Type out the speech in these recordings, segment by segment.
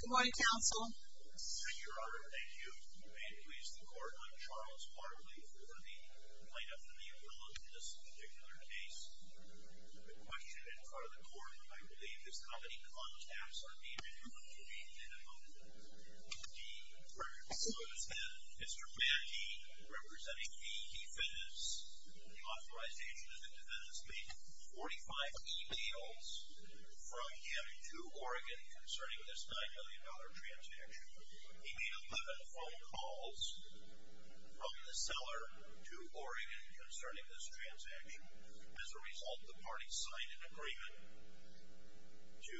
Good morning, Counsel. Thank you, Your Honor. Thank you. May it please the Court, I'm Charles Bartley for the plaintiff and the appellant in this particular case. The question in front of the Court, I believe, is how many contacts are needed in order to be defendant-only. So, it's been Mr. Mackey, representing the defendants, the authorized agent of the defendants, made 45 emails from him to Oregon concerning this $9 million transaction. He made 11 phone calls from the seller to Oregon concerning this transaction. As a result, the parties signed an agreement to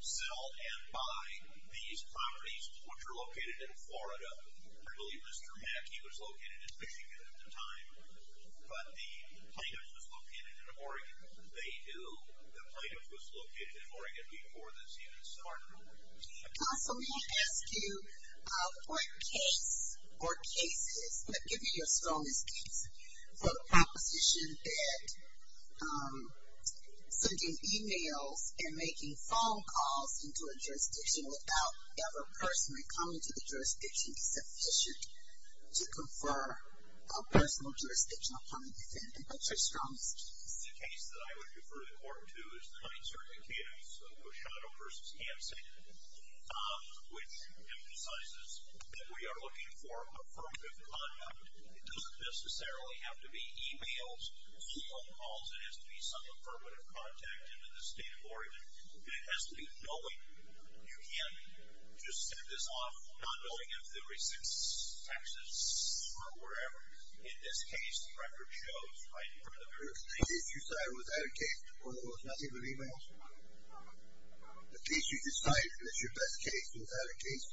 sell and buy these properties, which are located in Florida. I believe Mr. Mackey was located in Michigan at the time, but the plaintiff was located in Oregon. They knew the plaintiff was located in Oregon before this unit started. Counsel, may I ask you, what case or cases, I'm going to give you your strongest case, for the proposition that sending emails and making phone calls into a jurisdiction without the other person coming to the jurisdiction is sufficient to confer a personal jurisdiction upon the defendant. What's your strongest case? The case that I would refer the Court to is the 9th Circuit case, Oshado v. Hansen, which emphasizes that we are looking for affirmative conduct. It doesn't necessarily have to be emails, phone calls. It has to be some affirmative contact into the state of Oregon, and it has to be knowing you can't just send this off not knowing if there were six taxes or whatever. In this case, the record shows right from the very beginning. The case you cited was that a case where there was nothing but emails? The case you decided was your best case was that a case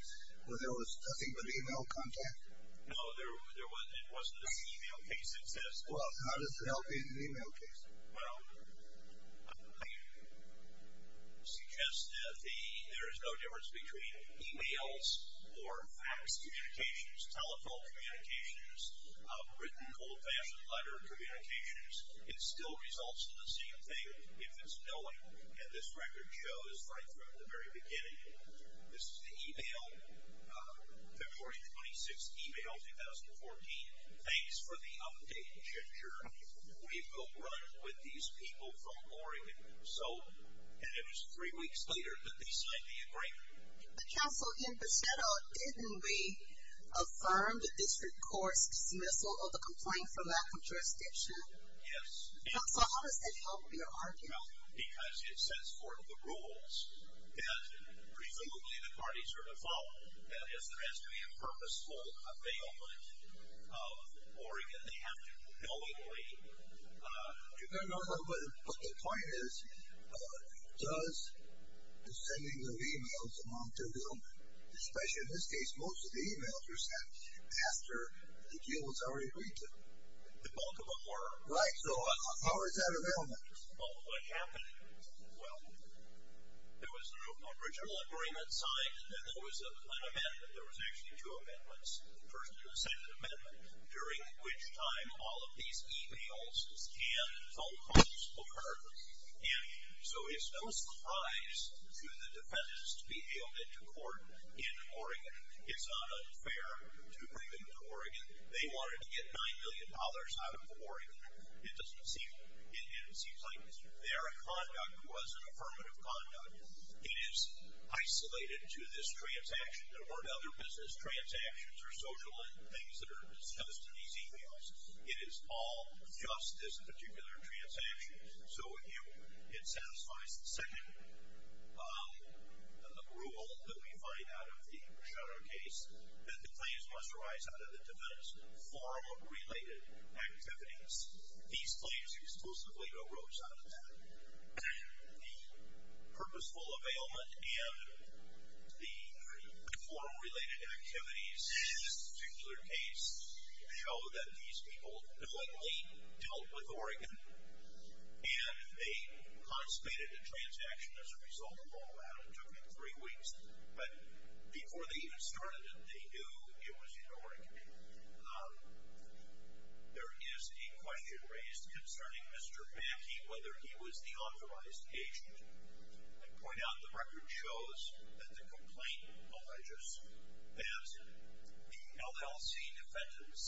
where there was nothing but email contact? No, it wasn't an email case. Well, how does that help in an email case? Well, I suggest that there is no difference between emails or fax communications, telephone communications, written old-fashioned letter communications. It still results in the same thing if it's knowing, and this record shows right from the very beginning. This is the email, February 26th email, 2014. Thanks for the update, Ginger. We will run with these people from Oregon. And it was three weeks later that they signed the agreement. But, Counsel, in Oshado, didn't we affirm the district court's dismissal of the complaint for lack of jurisdiction? Yes. So how does that help your argument? Well, because it sets forth the rules that presumably the parties are to follow. That is, there has to be a purposeful availment of Oregon. They have to knowingly do that. But the point is, does the sending of emails amount to an availment? Especially in this case, most of the emails were sent after the deal was already agreed to. Both of them were. Right. So how is that an availment? Well, what happened? Well, there was an original agreement signed, and there was an amendment. There was actually two amendments. The first was a second amendment, during which time all of these emails and phone calls occurred. And so it's no surprise to the defendants to be hailed into court in Oregon. It's not unfair to bring them to Oregon. They wanted to get $9 million out of Oregon. And it seems like their conduct was an affirmative conduct. It is isolated to this transaction. There weren't other business transactions or social things that are discussed in these emails. It is all just this particular transaction. So it satisfies the second rule that we find out of the Bruchetta case, that the claims must arise out of the defendant's forum-related activities. These claims exclusively arose out of that. The purposeful availment and the forum-related activities in this particular case show that these people knowingly dealt with Oregon, and they constipated the transaction as a result of all that. It took them three weeks. But before they even started it, they knew it was in Oregon. There is a question raised concerning Mr. Mackey, whether he was the authorized agent. I point out the record shows that the complaint alleges that the LLC defendants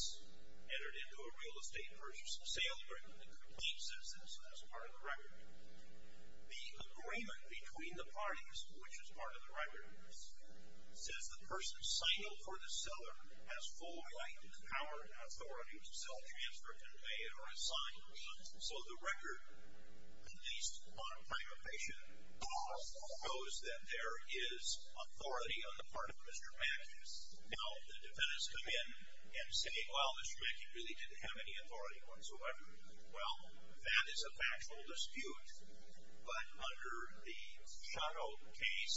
entered into a real estate versus sale agreement. The complaint says this as part of the record. The agreement between the parties, which is part of the record, says the person signed for the seller has full right to the power and authority to sell, transfer, convey, or assign. So the record, at least on a prime occasion, shows that there is authority on the part of Mr. Mackey. Now, the defendants come in and say, well, Mr. Mackey really didn't have any authority whatsoever. Well, that is a factual dispute, but under the Shotto case,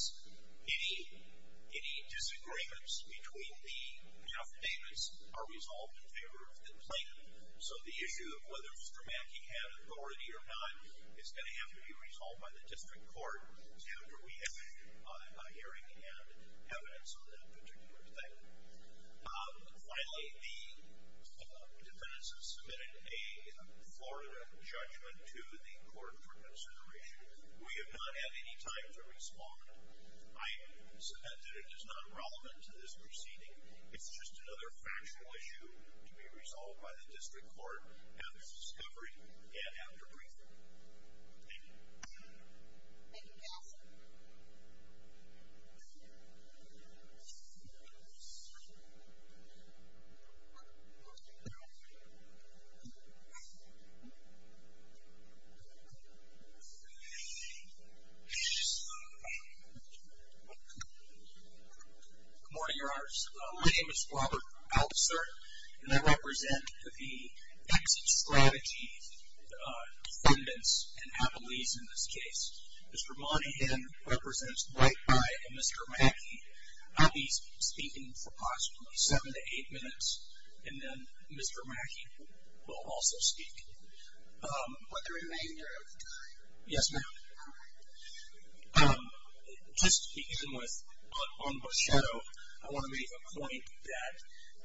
any disagreements between the affidavits are resolved in favor of the complaint. So the issue of whether Mr. Mackey had authority or not is going to have to be resolved by the district court after we have a hearing and evidence on that particular thing. Finally, the defendants have submitted a Florida judgment to the court for consideration. We have not had any time to respond. I submit that it is not relevant to this proceeding. It's just another factual issue to be resolved by the district court after discovery and after briefing. Thank you. Thank you, Cassidy. Good morning, Your Honors. My name is Robert Altser, and I represent the exit strategy defendants and affidavits in this case. Mr. Monahan represents Dwight and Mr. Mackey. I'll be speaking for possibly seven to eight minutes, and then Mr. Mackey will also speak. Would there be a minute of time? Yes, ma'am. Just to begin with, on the Shotto, I want to make a point that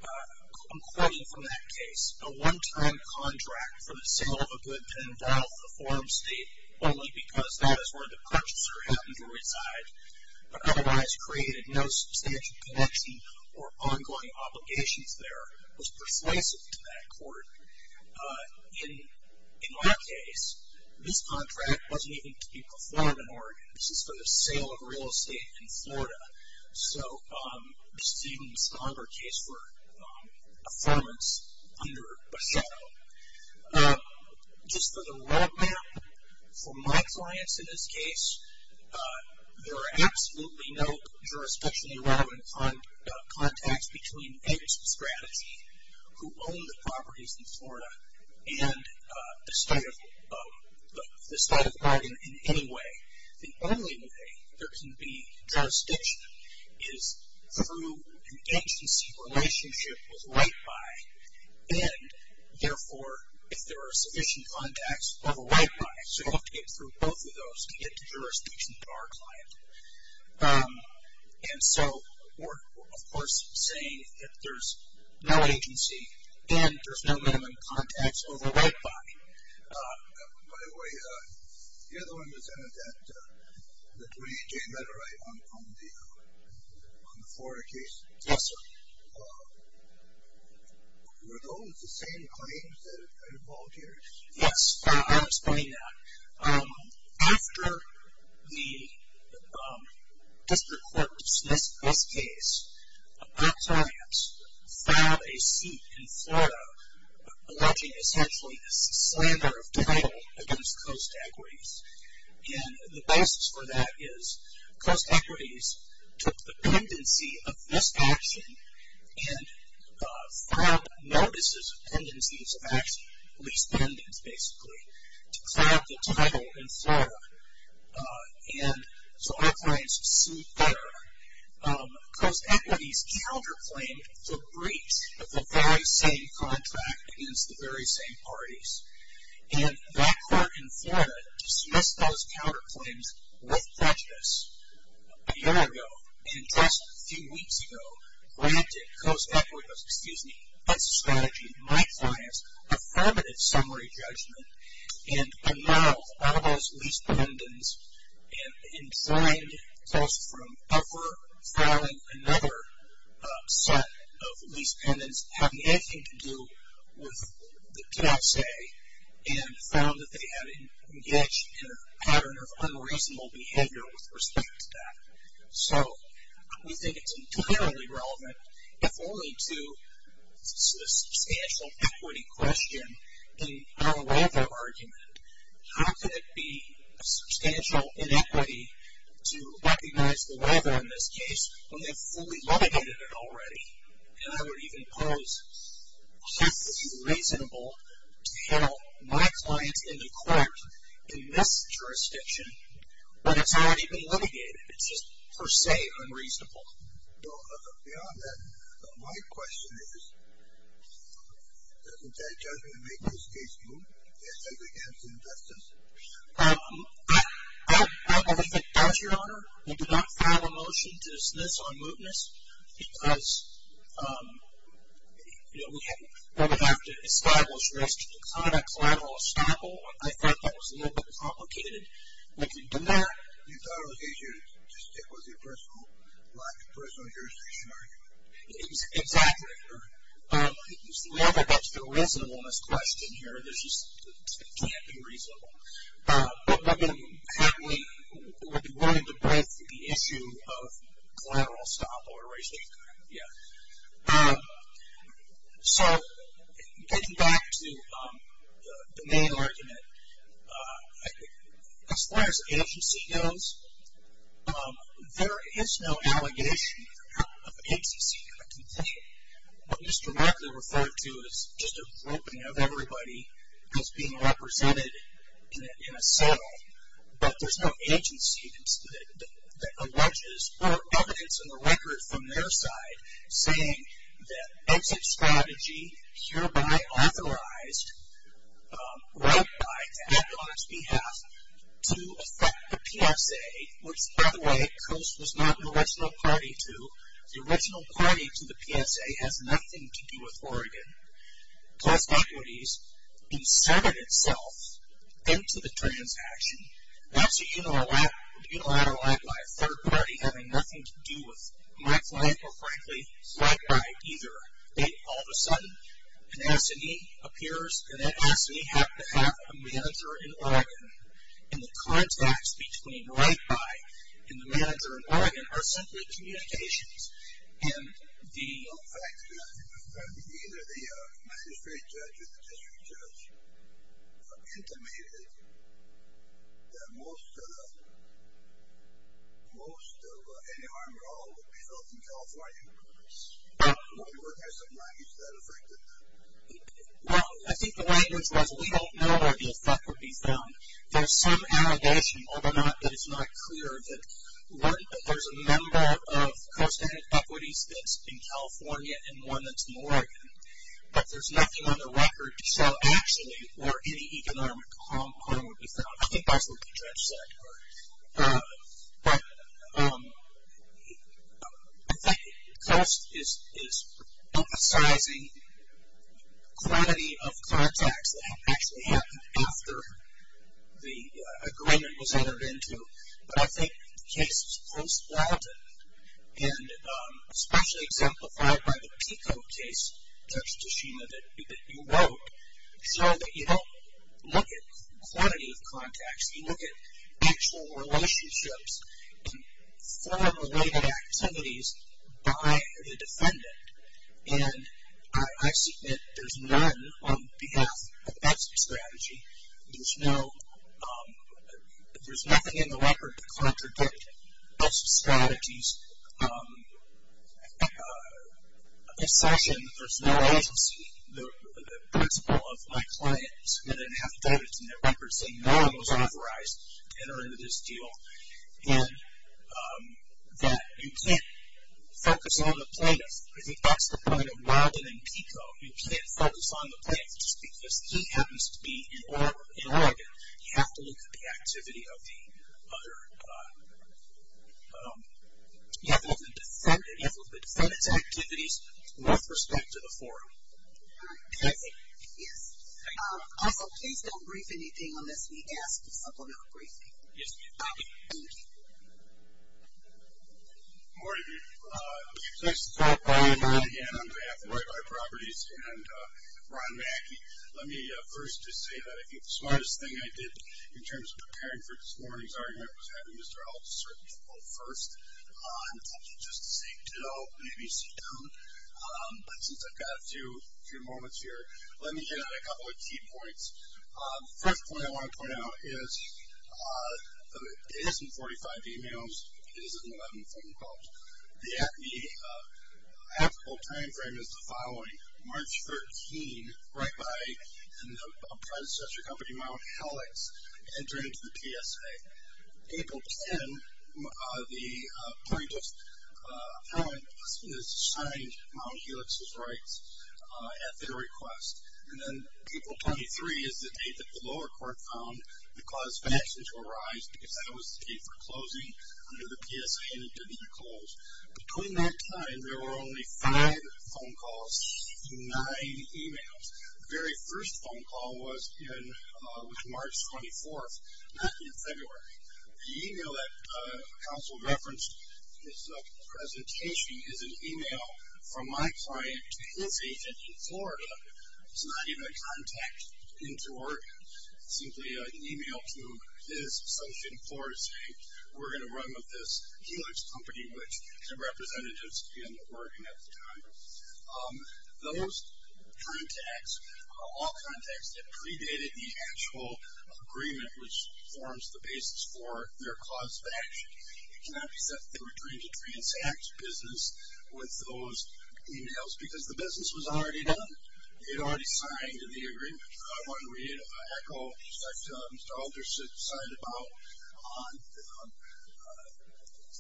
I'm quoting from that case, a one-time contract for the sale of a good to involve the forum state only because that is where the purchaser happened to reside but otherwise created no substantial connection or ongoing obligations there was persuasive to that court. In my case, this contract wasn't even to be performed in Oregon. This is for the sale of real estate in Florida. So this is even a stronger case for affirmance under a Shotto. Just for the roadmap, for my clients in this case, there are absolutely no jurisdictionally relevant contacts between exit strategy who own the properties in Florida and the state of Oregon in any way. The only way there can be jurisdiction is through an agency relationship with White Pie, and therefore if there are sufficient contacts over White Pie. So you'll have to get through both of those to get to jurisdiction with our client. And so we're, of course, saying that there's no agency and there's no minimum contacts over White Pie. By the way, the other one was in it, the 28-J matter right on the Florida case. Yes, sir. Were those the same claims that are involved here? Yes, I'll explain that. After the district court dismissed this case, our clients filed a suit in Florida alleging essentially a slander of title against Coast Equities. And the basis for that is Coast Equities took the pendency of this action and filed notices of pendencies of action, lease pendents basically, to cloud the title in Florida. And so our clients sued there. Coast Equities counterclaimed the breach of the very same contract against the very same parties. And that court in Florida dismissed those counterclaims with prejudice a year ago and just a few weeks ago granted Coast Equities, excuse me, that's a strategy, my clients, affirmative summary judgment And by now, all those lease pendents, in blind close from ever filing another set of lease pendents, have nothing to do with the KSA and found that they had engaged in a pattern of unreasonable behavior with respect to that. So we think it's entirely relevant, if only to the substantial equity question in our weather argument. How could it be a substantial inequity to recognize the weather in this case when they've fully litigated it already? And I would even pose, how could it be reasonable to have my clients in the court in this jurisdiction when it's already been litigated? It's just per se unreasonable. Beyond that, my question is, doesn't that judgment make this case moot? Yes, I would answer in that sense. I don't believe it does, Your Honor. We did not file a motion to dismiss on mootness because, you know, we have, we're going to have to establish restrictions on a collateral establishment. I thought that was a little bit complicated. We can do that. You thought it was a lack of personal jurisdiction argument? Exactly, Your Honor. It's never been to the reasonableness question here. It just can't be reasonable. What would be willing to both the issue of collateral estoppel or restatement? Yeah. So getting back to the main argument, as far as agency goes, there is no allegation of agency in a complaint. What was directly referred to as just a roping of everybody as being represented in a sale, but there's no agency that alleges or evidence in the record from their side saying that exit strategy hereby authorized right by to act on its behalf to affect the PSA, which, by the way, COAST was not an original party to. The original party to the PSA has nothing to do with Oregon. COAST Equities inserted itself into the transaction. That's a unilateral act by a third party having nothing to do with my client or, frankly, right by either. All of a sudden, an assignee appears, and that assignee happened to have a manager in Oregon, and the contacts between right by and the manager in Oregon are simply communications. In fact, either the magistrate judge or the district judge intimated that most of any arm or all would be filled in California. Were there some languages that affected that? Well, I think the language was we don't know where the effect would be found. There's some allegation, although it's not clear, that there's a number of COAST-added equities that's in California and one that's in Oregon, but there's nothing on the record to show actually where any economic harm would be found. I think that's what the judge said. But I think COAST is emphasizing quantity of contacts that actually happened after the agreement was entered into, but I think the cases post-Weldon, and especially exemplified by the PICO case, Judge Tashima, that you wrote, show that you don't look at quantity of contacts. You look at actual relationships and form-related activities by the defendant, and I submit there's none on behalf of that strategy. There's nothing in the record to contradict those strategies. This session, there's no agency. The principal of my client submitted an affidavit in the record saying no one was authorized to enter into this deal, and that you can't focus on the plaintiff. I think that's the point of Weldon and PICO. You can't focus on the plaintiff just because he happens to be in Oregon. You have to look at the activity of the other, you have to look at the defendant's activities with respect to the forum. Thank you. Yes. Also, please don't brief anything unless we ask to supplement a briefing. Yes, ma'am. Thank you. Thank you. Good morning. It's nice to talk to you all again on behalf of Roy By Properties and Ron Mackey. Let me first just say that I think the smartest thing I did in terms of preparing for this morning's argument was having Mr. Eltser come up first. I'm tempted just to say ditto, maybe sit down. But since I've got a few moments here, let me get at a couple of key points. The first point I want to point out is it isn't 45 emails, it isn't 11 phone calls. The actual time frame is the following, March 13, right by the private accessory company Mount Helix entering into the PSA. April 10, the plaintiff, Mount Helix has signed Mount Helix's rights at their request. And then April 23 is the date that the lower court found the cause of action to arise because that was the date for closing under the PSA and it didn't close. Between that time, there were only five phone calls to nine emails. The very first phone call was March 24, not in February. The email that counsel referenced in his presentation is an email from my client, his agent in Florida is not even a contact into Oregon. It's simply an email to his associate in Florida saying, we're going to run with this Helix company, which two representatives in Oregon at the time. Those contacts are all contacts that predated the actual agreement which forms the basis for their cause of action. It cannot be said that they were trying to transact business with those emails because the business was already done. It already signed in the agreement. I want to read an echo that Mr. Aldrich had cited about on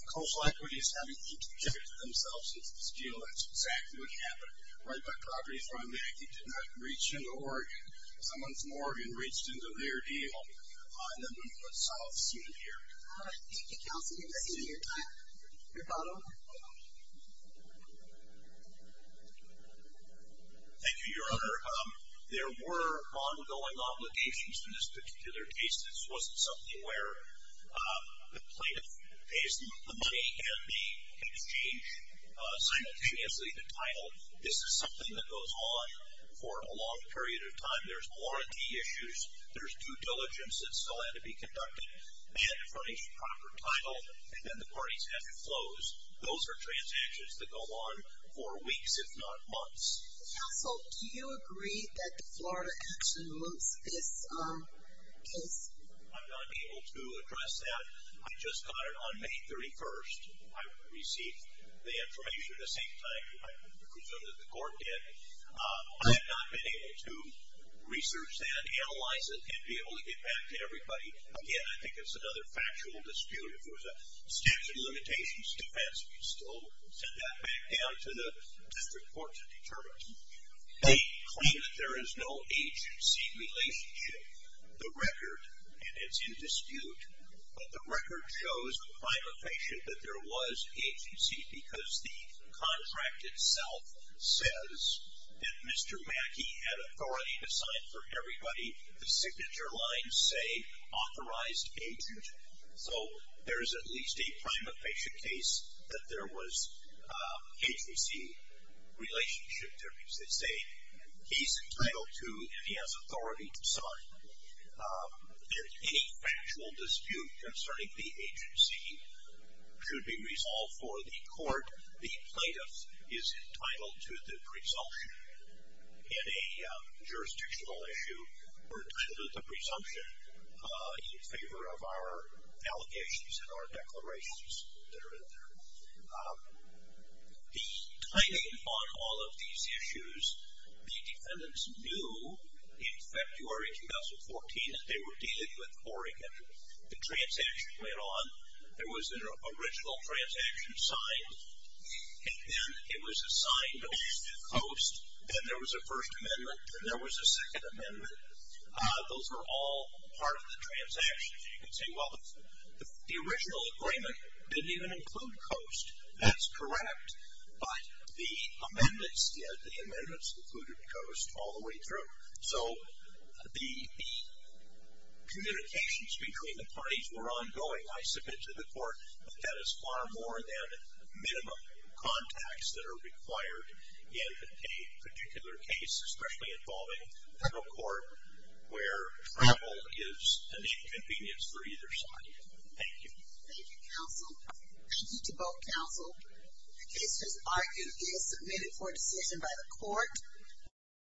coastal equities having to protect themselves against the steel. That's exactly what happened. Right by properties where I'm at, he did not reach into Oregon. Someone from Oregon reached into their deal and then we put South Sea in here. All right. Thank you, counsel. We've seen your time. Your bottle. Thank you, Your Honor. There were ongoing obligations to this particular case. This wasn't something where the plaintiff pays the money and they exchange simultaneously the title. This is something that goes on for a long period of time. There's warranty issues. There's due diligence that still had to be conducted. They had to furnish the proper title, and then the parties had to close. Those are transactions that go on for weeks, if not months. Counsel, do you agree that the Florida action moves this case? I'm not able to address that. I just got it on May 31st. I received the information at the same time. I presume that the court did. I have not been able to research that, analyze it, and be able to get back to everybody. Again, I think it's another factual dispute. If it was a statute of limitations defense, we'd still send that back down to the district court to determine. They claim that there is no agency relationship. The record, and it's in dispute, but the record shows by location that there was agency because the contract itself says that Mr. Mackey had authority to sign for everybody. The signature lines say authorized agent, so there is at least a prima facie case that there was agency relationship. That means they say he's entitled to and he has authority to sign. Any factual dispute concerning the agency should be resolved for the court. The plaintiff is entitled to the presumption in a jurisdictional issue, or should have the presumption in favor of our allegations and our declarations that are in there. The timing on all of these issues, the defendants knew in February 2014 that they were dealing with Oregon. The transaction went on. There was an original transaction signed, and then it was assigned to Coast, and there was a First Amendment, and there was a Second Amendment. Those were all part of the transaction. You can say, well, the original agreement didn't even include Coast. That's correct, but the amendments did. The amendments included Coast all the way through. So the communications between the parties were ongoing. I submit to the court that that is far more than minimum contacts that are required in a particular case, especially involving federal court where travel is an inconvenience for either side. Thank you. Thank you, counsel. Thank you to both counsel. The case has argued and is submitted for decision by the court.